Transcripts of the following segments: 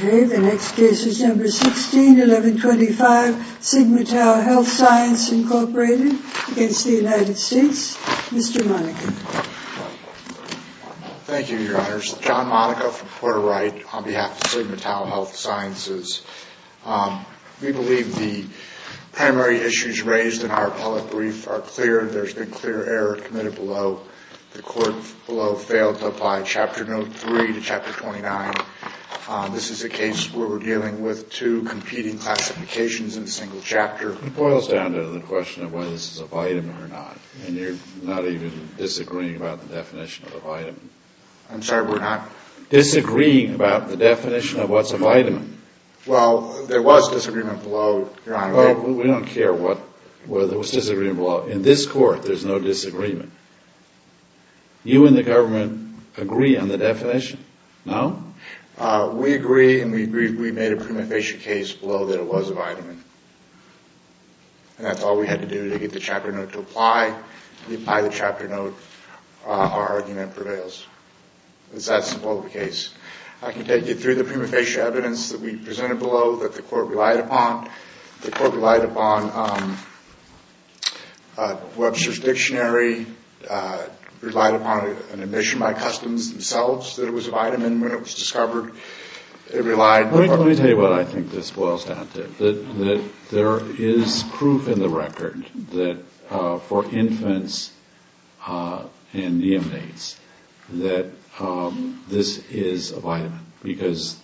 Okay, the next case is number 16, 1125 Sigma Tau Health Science Incorporated against the Thank you, your honors. John Monaco from Porter Wright on behalf of Sigma Tau Health Sciences. We believe the primary issues raised in our appellate brief are clear. There's been clear error committed below. The court below failed to apply Chapter Note 3 to Chapter 29. This is a case where we're dealing with two competing classifications in a single chapter. It boils down to the question of whether this is a vitamin or not, and you're not even disagreeing about the definition of a vitamin. I'm sorry, we're not? Disagreeing about the definition of what's a vitamin. Well, there was disagreement below, your honor. Well, we don't care whether there was disagreement below. In this court, there's no disagreement. You and the government agree on the definition, no? We agree, and we made a prima facie case below that it was a vitamin. And that's all we had to do to get the chapter note to apply. We apply the chapter note. Our argument prevails. That's the case. I can take you through the prima facie evidence that we presented below that the court relied upon. The court relied upon Webster's Dictionary, relied upon an admission by Customs themselves that it was a vitamin when it was discovered. It relied upon... Let me tell you what I think this boils down to. There is proof in the record that for infants and neonates that this is a vitamin, because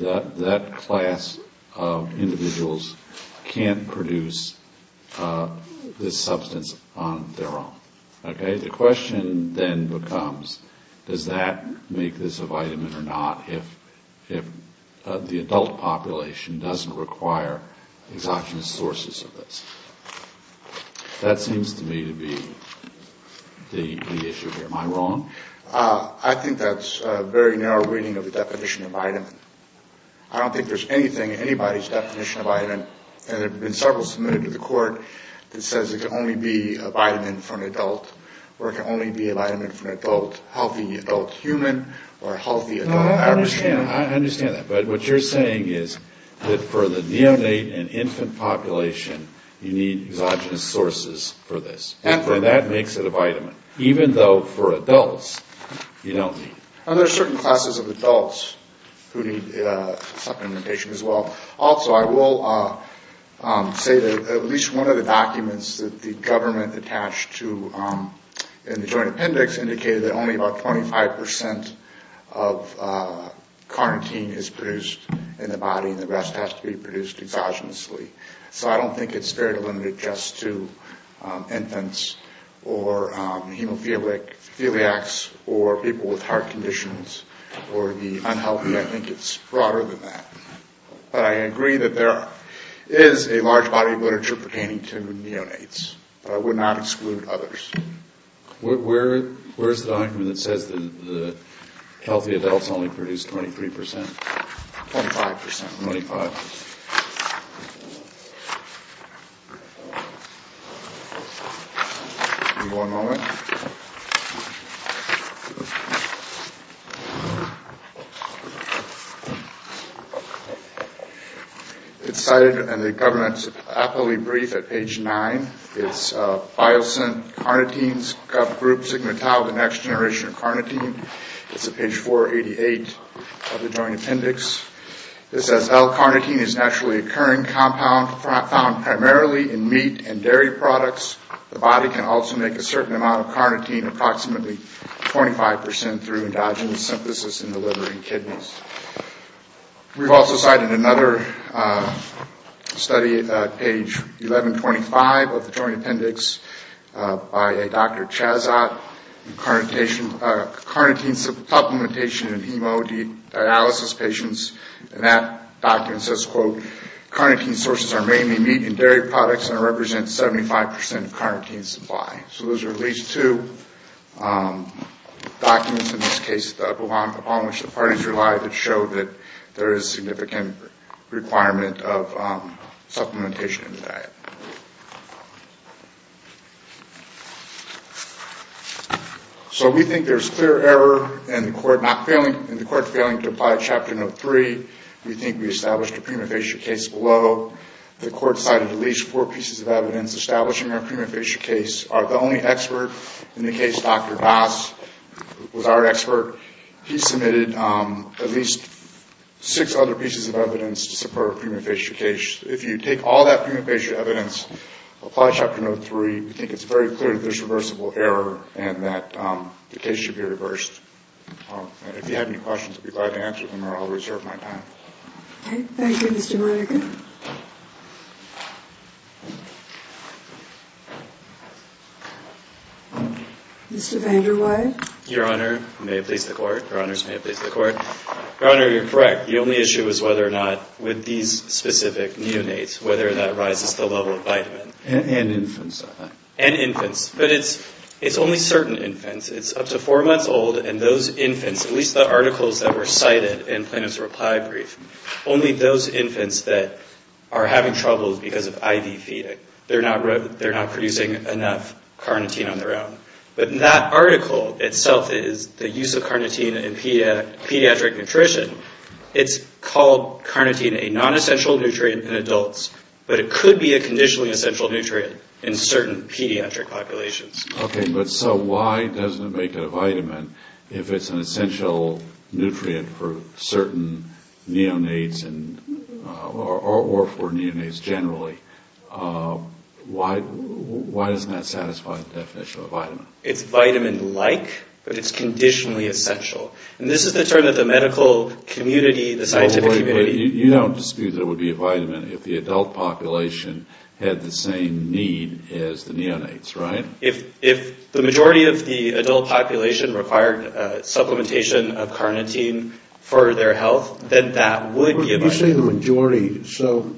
that class of individuals can't produce this substance on their own. Okay? The question then becomes, does that make this a vitamin or not if the adult population doesn't require exogenous sources of this? That seems to me to be the issue here. Am I wrong? I think that's a very narrow reading of the definition of vitamin. I don't think there's anything in anybody's definition of vitamin. There have been several submitted to the court that says it can only be a vitamin for an adult, or it can only be a vitamin for an adult healthy adult human or healthy adult average human. I understand that. But what you're saying is that for the neonate and infant population, you need exogenous sources for this. And that makes it a vitamin, even though for adults, you don't need it. There are certain classes of adults who need supplementation as well. Also, I will say that at least one of the documents that the government attached to in the joint appendix indicated that only about 25% of carnitine is produced in the body, and the rest has to be produced exogenously. So I don't think it's very limited just to infants or hemophiliacs or people with heart conditions or the unhealthy. I think it's broader than that. But I agree that there is a large body of literature pertaining to neonates, but I would not exclude others. Where is the document that says that healthy adults only produce 23%? 25%. 25%. One moment. It's cited in the government's appellate brief at page 9. It's Biosyn Carnitine Group Sigma Tau, the Next Generation of Carnitine. It's at page 488 of the joint appendix. It says, L-carnitine is a naturally occurring compound found primarily in meat and dairy products. The body can also make a certain amount of carnitine, approximately 25%, through endogenous synthesis in the liver and kidneys. We've also cited another study at page 1125 of the joint appendix by a Dr. Chazat, in carnitine supplementation in hemodialysis patients. And that document says, quote, carnitine sources are mainly meat and dairy products and represent 75% of carnitine supply. So those are at least two documents, in this case, that belong upon which the parties rely that show that there is significant requirement of supplementation in the diet. So we think there's clear error in the court failing to apply Chapter No. 3. We think we established a prima facie case below. The court cited at least four pieces of evidence establishing our prima facie case. The only expert in the case, Dr. Bass, was our expert. He submitted at least six other pieces of evidence to support a prima facie case. If you take all that prima facie evidence, apply Chapter No. 3, we think it's very clear that there's reversible error and that the case should be reversed. If you have any questions, I'll be glad to answer them, or I'll reserve my time. Okay. Thank you, Mr. Monica. Mr. Vanderweide? Your Honor, may it please the Court? Your Honors, may it please the Court? Your Honor, you're correct. The only issue is whether or not, with these specific neonates, whether that rises the level of vitamin. And infants, I think. And infants. But it's only certain infants. It's up to four months old, and those infants, at least the articles that were cited in Plano's reply brief, only those infants that are having trouble is because of IV feeding. They're not producing enough carnitine on their own. But that article itself is the use of carnitine in pediatric nutrition. It's called carnitine a nonessential nutrient in adults, but it could be a conditionally essential nutrient in certain pediatric populations. Okay, but so why doesn't it make it a vitamin if it's an essential nutrient for certain neonates or for neonates generally? Why doesn't that satisfy the definition of a vitamin? It's vitamin-like, but it's conditionally essential. And this is the term that the medical community, the scientific community... had the same need as the neonates, right? If the majority of the adult population required supplementation of carnitine for their health, then that would be a vitamin. You say the majority. So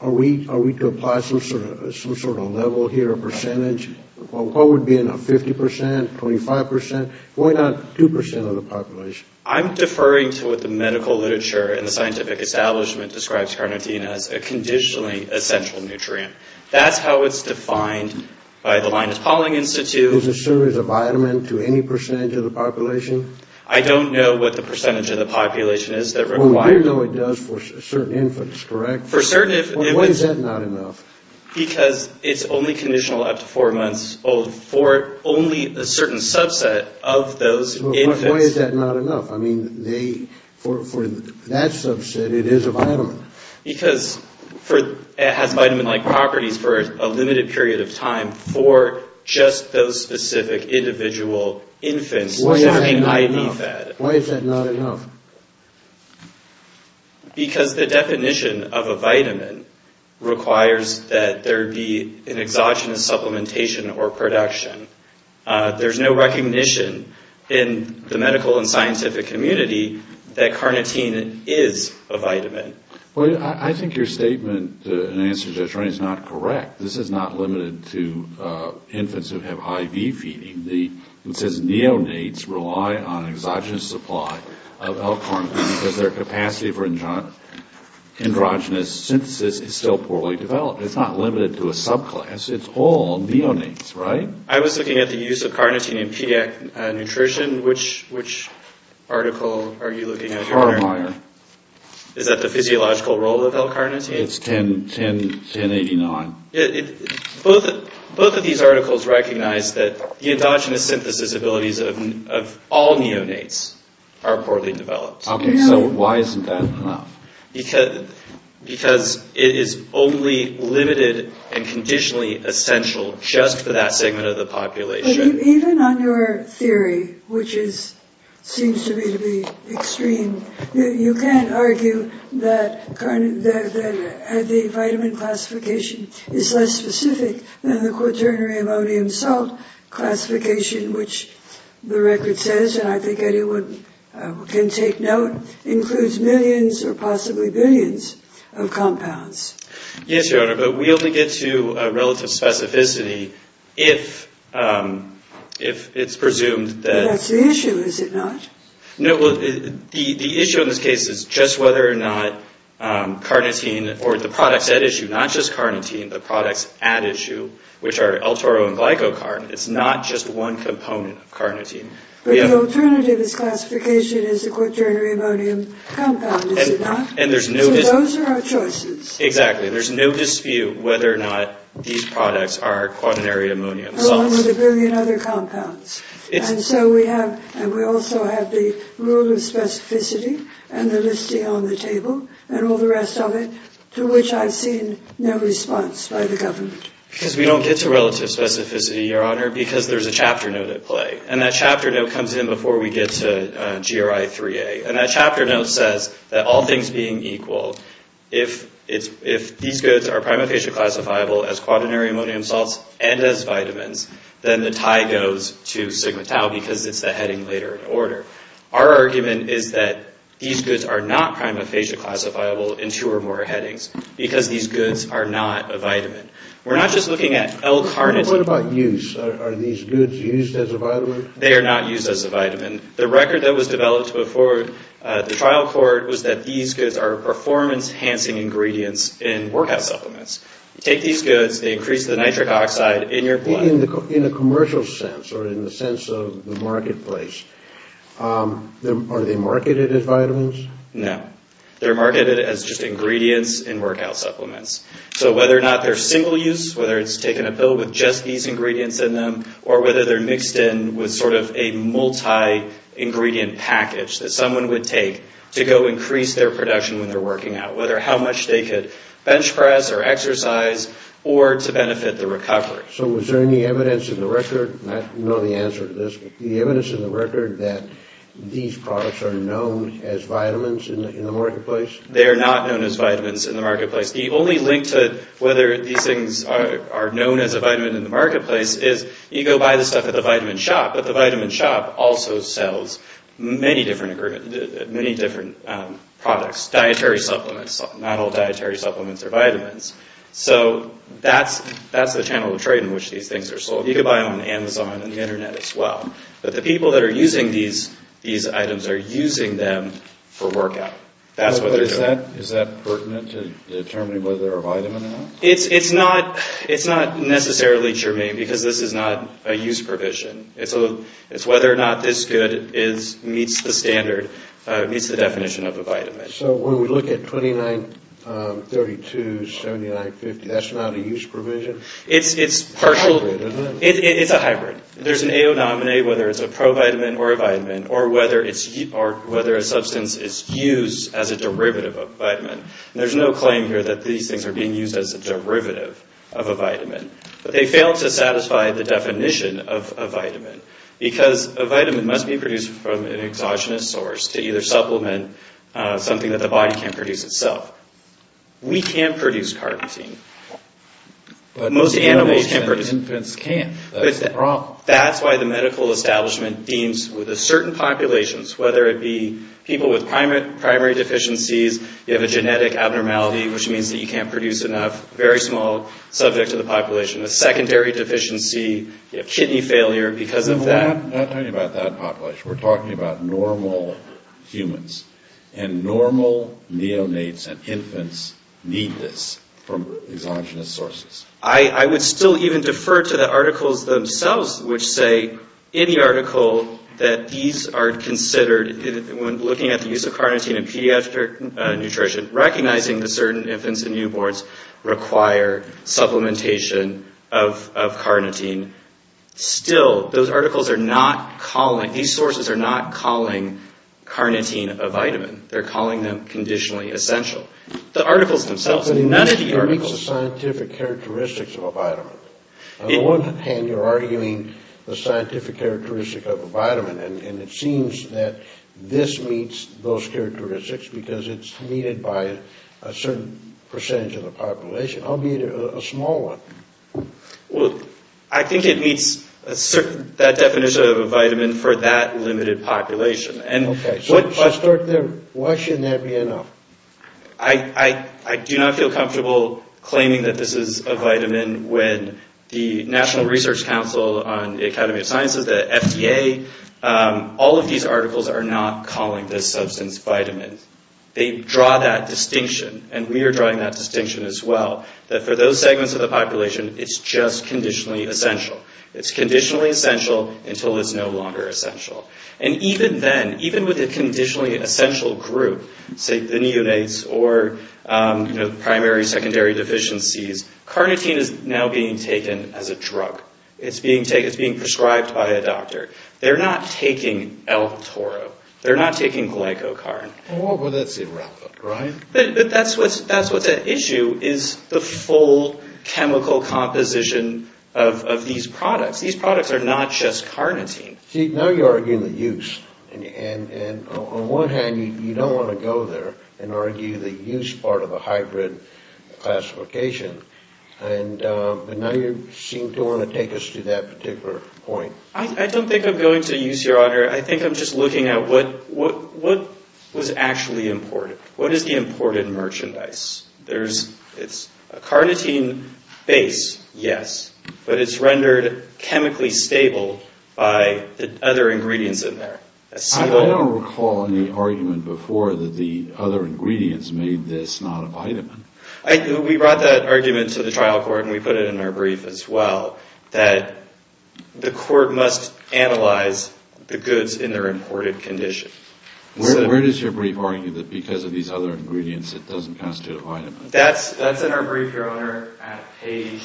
are we to apply some sort of level here, a percentage? What would be in a 50%, 25%? Why not 2% of the population? I'm deferring to what the medical literature and the scientific establishment describes carnitine as a conditionally essential nutrient. That's how it's defined by the Linus Pauling Institute. Is a cereal a vitamin to any percentage of the population? I don't know what the percentage of the population is that requires... Well, we do know it does for certain infants, correct? For certain infants... Well, why is that not enough? Because it's only conditional up to four months old for only a certain subset of those infants. Why is that not enough? I mean, for that subset, it is a vitamin. Because it has vitamin-like properties for a limited period of time for just those specific individual infants... Why is that not enough? Why is that not enough? Because the definition of a vitamin requires that there be an exogenous supplementation or production. There's no recognition in the medical and scientific community that carnitine is a vitamin. Well, I think your statement in answer to that is not correct. This is not limited to infants who have IV feeding. It says neonates rely on exogenous supply of L-carnitine because their capacity for androgenous synthesis is still poorly developed. It's not limited to a subclass. It's all neonates, right? I was looking at the use of carnitine in pediatric nutrition. Which article are you looking at? Carmeier. Is that the physiological role of L-carnitine? It's 1089. Both of these articles recognize that the endogenous synthesis abilities of all neonates are poorly developed. Okay, so why isn't that enough? Because it is only limited and conditionally essential just for that segment of the population. Even on your theory, which seems to me to be extreme, you can argue that the vitamin classification is less specific than the quaternary ammonium salt classification, which the record says, and I think anyone can take note, includes millions or possibly billions of compounds. Yes, Your Honor, but we only get to relative specificity if it's presumed that... That's the issue, is it not? No, the issue in this case is just whether or not carnitine, or the products at issue, not just carnitine, which are L-toro and glycocarn, it's not just one component of carnitine. But the alternative is classification as a quaternary ammonium compound, is it not? And there's no... So those are our choices. Exactly, there's no dispute whether or not these products are quaternary ammonium salts. Along with a billion other compounds. And so we have, and we also have the rule of specificity and the listing on the table, and all the rest of it, to which I've seen no response by the government. Because we don't get to relative specificity, Your Honor, because there's a chapter note at play. And that chapter note comes in before we get to GRI 3A. And that chapter note says that, all things being equal, if these goods are prima facie classifiable as quaternary ammonium salts, and as vitamins, then the tie goes to Sigma Tau, because it's the heading later in order. Our argument is that these goods are not prima facie classifiable in two or more headings. Because these goods are not a vitamin. We're not just looking at L-carnitine. What about use? Are these goods used as a vitamin? They are not used as a vitamin. The record that was developed before the trial court was that these goods are performance enhancing ingredients in workout supplements. You take these goods, they increase the nitric oxide in your blood. But in a commercial sense, or in the sense of the marketplace, are they marketed as vitamins? No. They're marketed as just ingredients in workout supplements. So whether or not they're single use, whether it's taken a pill with just these ingredients in them, or whether they're mixed in with sort of a multi-ingredient package that someone would take to go increase their production when they're working out, whether how much they could bench press or exercise, or to benefit the recovery. So was there any evidence in the record, and I don't know the answer to this, but the evidence in the record that these products are known as vitamins in the marketplace? They are not known as vitamins in the marketplace. The only link to whether these things are known as a vitamin in the marketplace is you go buy the stuff at the vitamin shop, but the vitamin shop also sells many different products, dietary supplements. Not all dietary supplements are vitamins. So that's the channel of trade in which these things are sold. You could buy them on Amazon and the Internet as well. But the people that are using these items are using them for workout. That's what they're doing. Is that pertinent to determining whether they're a vitamin or not? It's not necessarily germane because this is not a use provision. It's whether or not this good meets the standard, meets the definition of a vitamin. So when we look at 29.32, 79.50, that's not a use provision? It's a hybrid. There's an aonominate, whether it's a provitamin or a vitamin, or whether a substance is used as a derivative of a vitamin. There's no claim here that these things are being used as a derivative of a vitamin. But they fail to satisfy the definition of a vitamin because a vitamin must be produced from an exogenous source to either supplement something that the body can't produce itself. We can produce carotene, but most animals can't produce it. Infants can't. That's the problem. That's why the medical establishment deems certain populations, whether it be people with primary deficiencies, you have a genetic abnormality which means that you can't produce enough, very small subject to the population, a secondary deficiency, kidney failure because of that. We're not talking about that population. We're talking about normal humans. And normal neonates and infants need this from exogenous sources. I would still even defer to the articles themselves, which say any article that these are considered, when looking at the use of carnitine in pediatric nutrition, recognizing that certain infants and newborns require supplementation of carnitine. Still, those articles are not calling, these sources are not calling carnitine a vitamin. They're calling them conditionally essential. The articles themselves, none of the articles. It meets the scientific characteristics of a vitamin. On the one hand, you're arguing the scientific characteristics of a vitamin, and it seems that this meets those characteristics because it's needed by a certain percentage of the population, albeit a small one. Well, I think it meets that definition of a vitamin for that limited population. Why shouldn't that be enough? I do not feel comfortable claiming that this is a vitamin when the National Research Council on the Academy of Sciences, the FDA, all of these articles are not calling this substance vitamin. They draw that distinction, and we are drawing that distinction as well, that for those segments of the population, it's just conditionally essential. It's conditionally essential until it's no longer essential. And even then, even with a conditionally essential group, say the neonates or primary, secondary deficiencies, carnitine is now being taken as a drug. It's being prescribed by a doctor. They're not taking L-toro. They're not taking glycocarn. Well, that's irrelevant, right? But that's what's at issue is the full chemical composition of these products. These products are not just carnitine. See, now you're arguing the use. And on one hand, you don't want to go there and argue the use part of a hybrid classification. And now you seem to want to take us to that particular point. I don't think I'm going to use your honor. I think I'm just looking at what was actually imported. What is the imported merchandise? It's a carnitine base, yes, but it's rendered chemically stable by the other ingredients in there. I don't recall any argument before that the other ingredients made this not a vitamin. We brought that argument to the trial court, and we put it in our brief as well, that the court must analyze the goods in their imported condition. Where does your brief argue that because of these other ingredients it doesn't constitute a vitamin? That's in our brief, your honor, at page...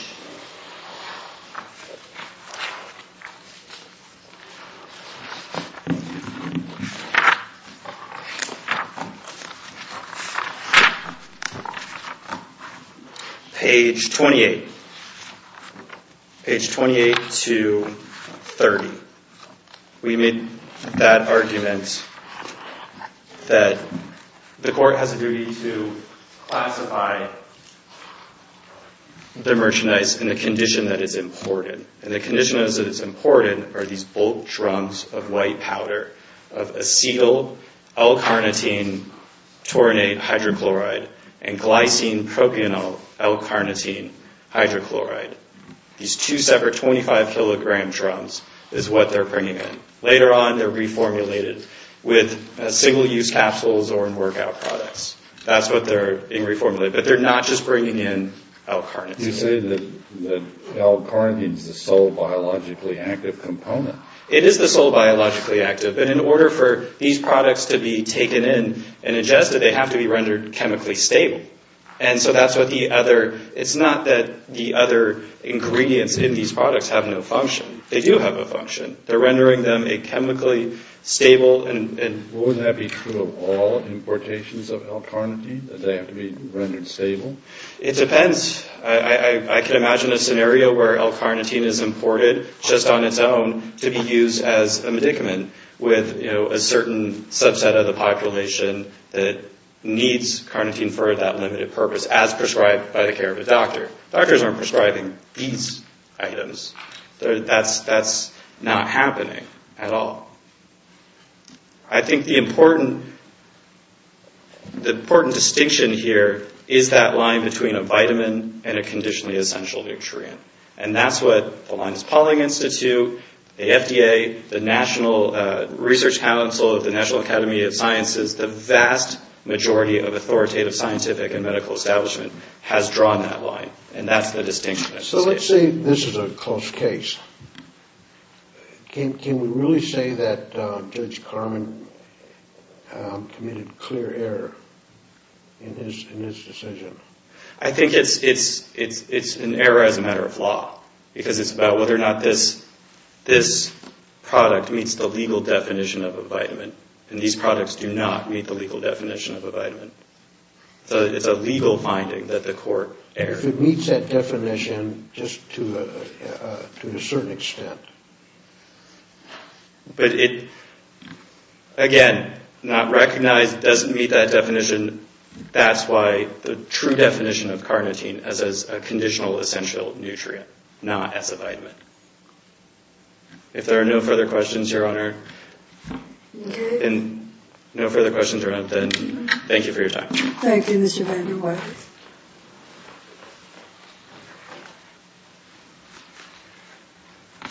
Page 28. Page 28 to 30. We made that argument that the court has a duty to classify the merchandise in the condition that it's imported. And the condition that it's imported are these bulk drums of white powder, of acetyl L-carnitine taurinate hydrochloride and glycine propionyl L-carnitine hydrochloride. These two separate 25-kilogram drums is what they're bringing in. Later on, they're reformulated with single-use capsules or in workout products. That's what they're being reformulated, but they're not just bringing in L-carnitine. You say that L-carnitine is the sole biologically active component. It is the sole biologically active. But in order for these products to be taken in and ingested, they have to be rendered chemically stable. And so that's what the other... It's not that the other ingredients in these products have no function. They do have a function. They're rendering them a chemically stable... Wouldn't that be true of all importations of L-carnitine, that they have to be rendered stable? It depends. I can imagine a scenario where L-carnitine is imported just on its own to be used as a medicament with a certain subset of the population that needs carnitine for that limited purpose, as prescribed by the care of a doctor. Doctors aren't prescribing these items. That's not happening at all. I think the important distinction here is that line between a vitamin and a conditionally essential nutrient. And that's what the Linus Pauling Institute, the FDA, the National Research Council of the National Academy of Sciences, the vast majority of authoritative scientific and medical establishment has drawn that line. And that's the distinction. So let's say this is a close case. Can we really say that Judge Carman committed clear error in his decision? I think it's an error as a matter of law, because it's about whether or not this product meets the legal definition of a vitamin. And these products do not meet the legal definition of a vitamin. So it's a legal finding that the court erred. If it meets that definition, just to a certain extent. But it, again, not recognized, doesn't meet that definition, that's why the true definition of carnitine as a conditional essential nutrient, not as a vitamin. If there are no further questions, Your Honor, and no further questions around, then thank you for your time. Thank you, Mr. Van der Weyden.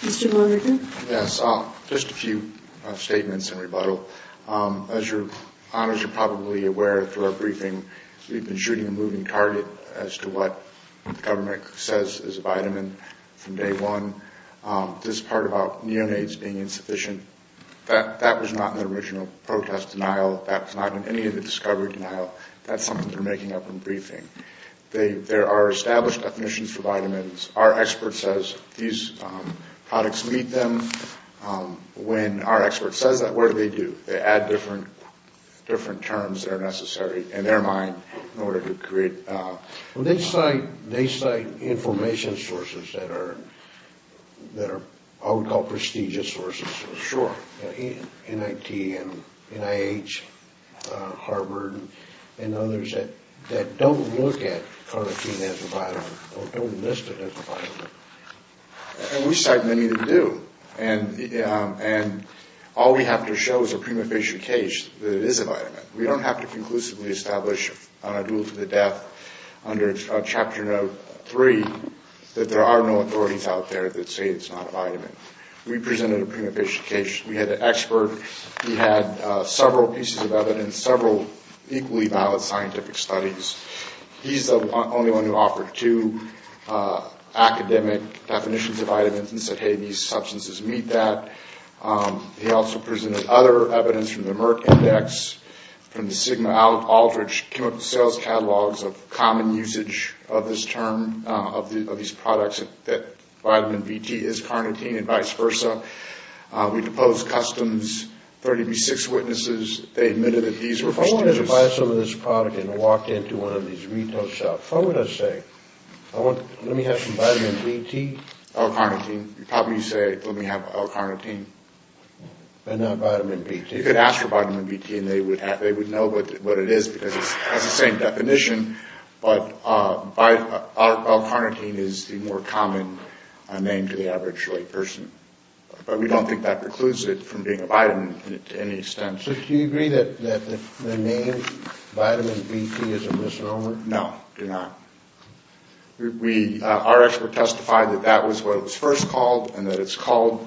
Mr. Lonergan? Yes, just a few statements in rebuttal. As Your Honors are probably aware through our briefing, we've been shooting a moving target as to what the government says is a vitamin from day one. This part about neonates being insufficient, that was not in the original protest denial. That was not in any of the discovery denial. That's something they're making up in briefing. There are established definitions for vitamins. Our expert says these products meet them. When our expert says that, what do they do? They add different terms that are necessary in their mind in order to create... Well, they cite information sources that are what we call prestigious sources. Sure. NIT and NIH, Harvard, and others that don't look at carnitine as a vitamin, don't list it as a vitamin. And we cite many that do. And all we have to show is a prima facie case that it is a vitamin. We don't have to conclusively establish on a duel to the death under Chapter No. 3 that there are no authorities out there that say it's not a vitamin. We presented a prima facie case. We had an expert. He had several pieces of evidence, several equally valid scientific studies. He's the only one who offered two academic definitions of vitamins and said, hey, these substances meet that. He also presented other evidence from the Merck Index, from the Sigma-Aldrich chemical sales catalogs of common usage of this term, of these products, that vitamin Bt is carnitine and vice versa. We proposed customs. Thirty-six witnesses, they admitted that these were prestigious. If I wanted to buy some of this product and walk into one of these retail shops, what would I say? Let me have some vitamin Bt. L-carnitine. You'd probably say, let me have L-carnitine. But not vitamin Bt. You could ask for vitamin Bt and they would know what it is because it has the same definition. But L-carnitine is the more common name to the average layperson. But we don't think that precludes it from being a vitamin to any extent. So do you agree that the name vitamin Bt is a misnomer? No, do not. Our expert testified that that was what it was first called and that it's called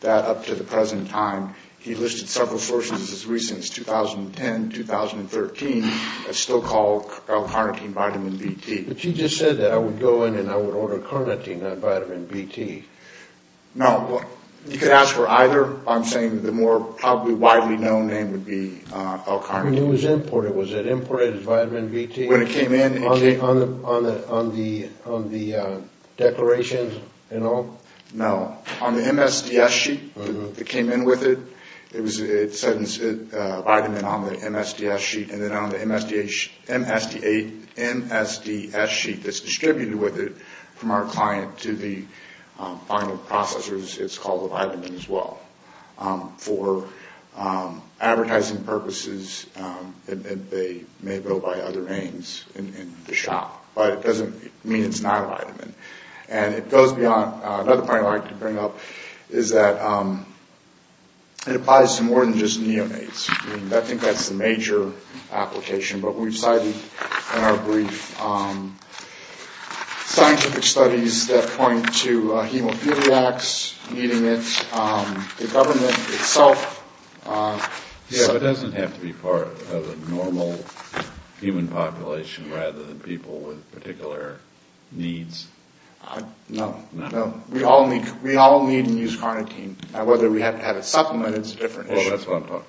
that up to the present time. He listed several sources as recent as 2010, 2013, that still call L-carnitine vitamin Bt. But you just said that I would go in and I would order carnitine, not vitamin Bt. No, you could ask for either. I'm saying the more probably widely known name would be L-carnitine. When it was imported, was it imported as vitamin Bt? When it came in. On the declaration and all? No, on the MSDS sheet that came in with it, it said vitamin on the MSDS sheet. And then on the MSDS sheet that's distributed with it from our client to the final processors, it's called a vitamin as well. For advertising purposes, they may go by other names in the shop. But it doesn't mean it's not a vitamin. And it goes beyond. Another point I'd like to bring up is that it applies to more than just neonates. I think that's the major application. But we've cited in our brief scientific studies that point to hemophiliacs needing it, the government itself. So it doesn't have to be part of a normal human population rather than people with particular needs? No. We all need and use carnitine. Whether we have to have it supplemented is a different issue. Well, that's what I'm talking about.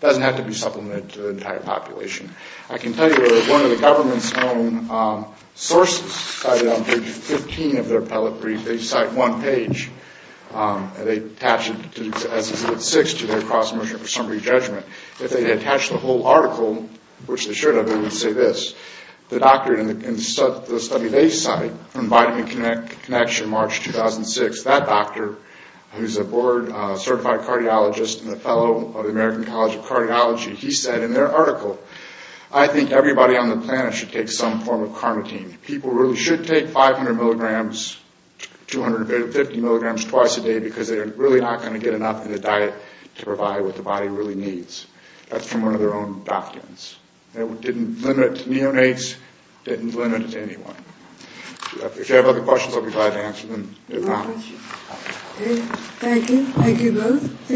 It doesn't have to be supplemented to the entire population. I can tell you that one of the government's own sources cited on page 15 of their pellet brief, they cite one page and they attach it to their cross motion for summary judgment. If they had attached the whole article, which they should have, they would say this. The doctor in the study they cite from Vitamin Connection March 2006, that doctor who's a board certified cardiologist and a fellow of the American College of Cardiology, he said in their article, I think everybody on the planet should take some form of carnitine. People really should take 500 milligrams, 250 milligrams twice a day because they're really not going to get enough in the diet to provide what the body really needs. That's from one of their own doctrines. It didn't limit to neonates. It didn't limit to anyone. If you have other questions, I'll be glad to answer them. Thank you. Thank you both.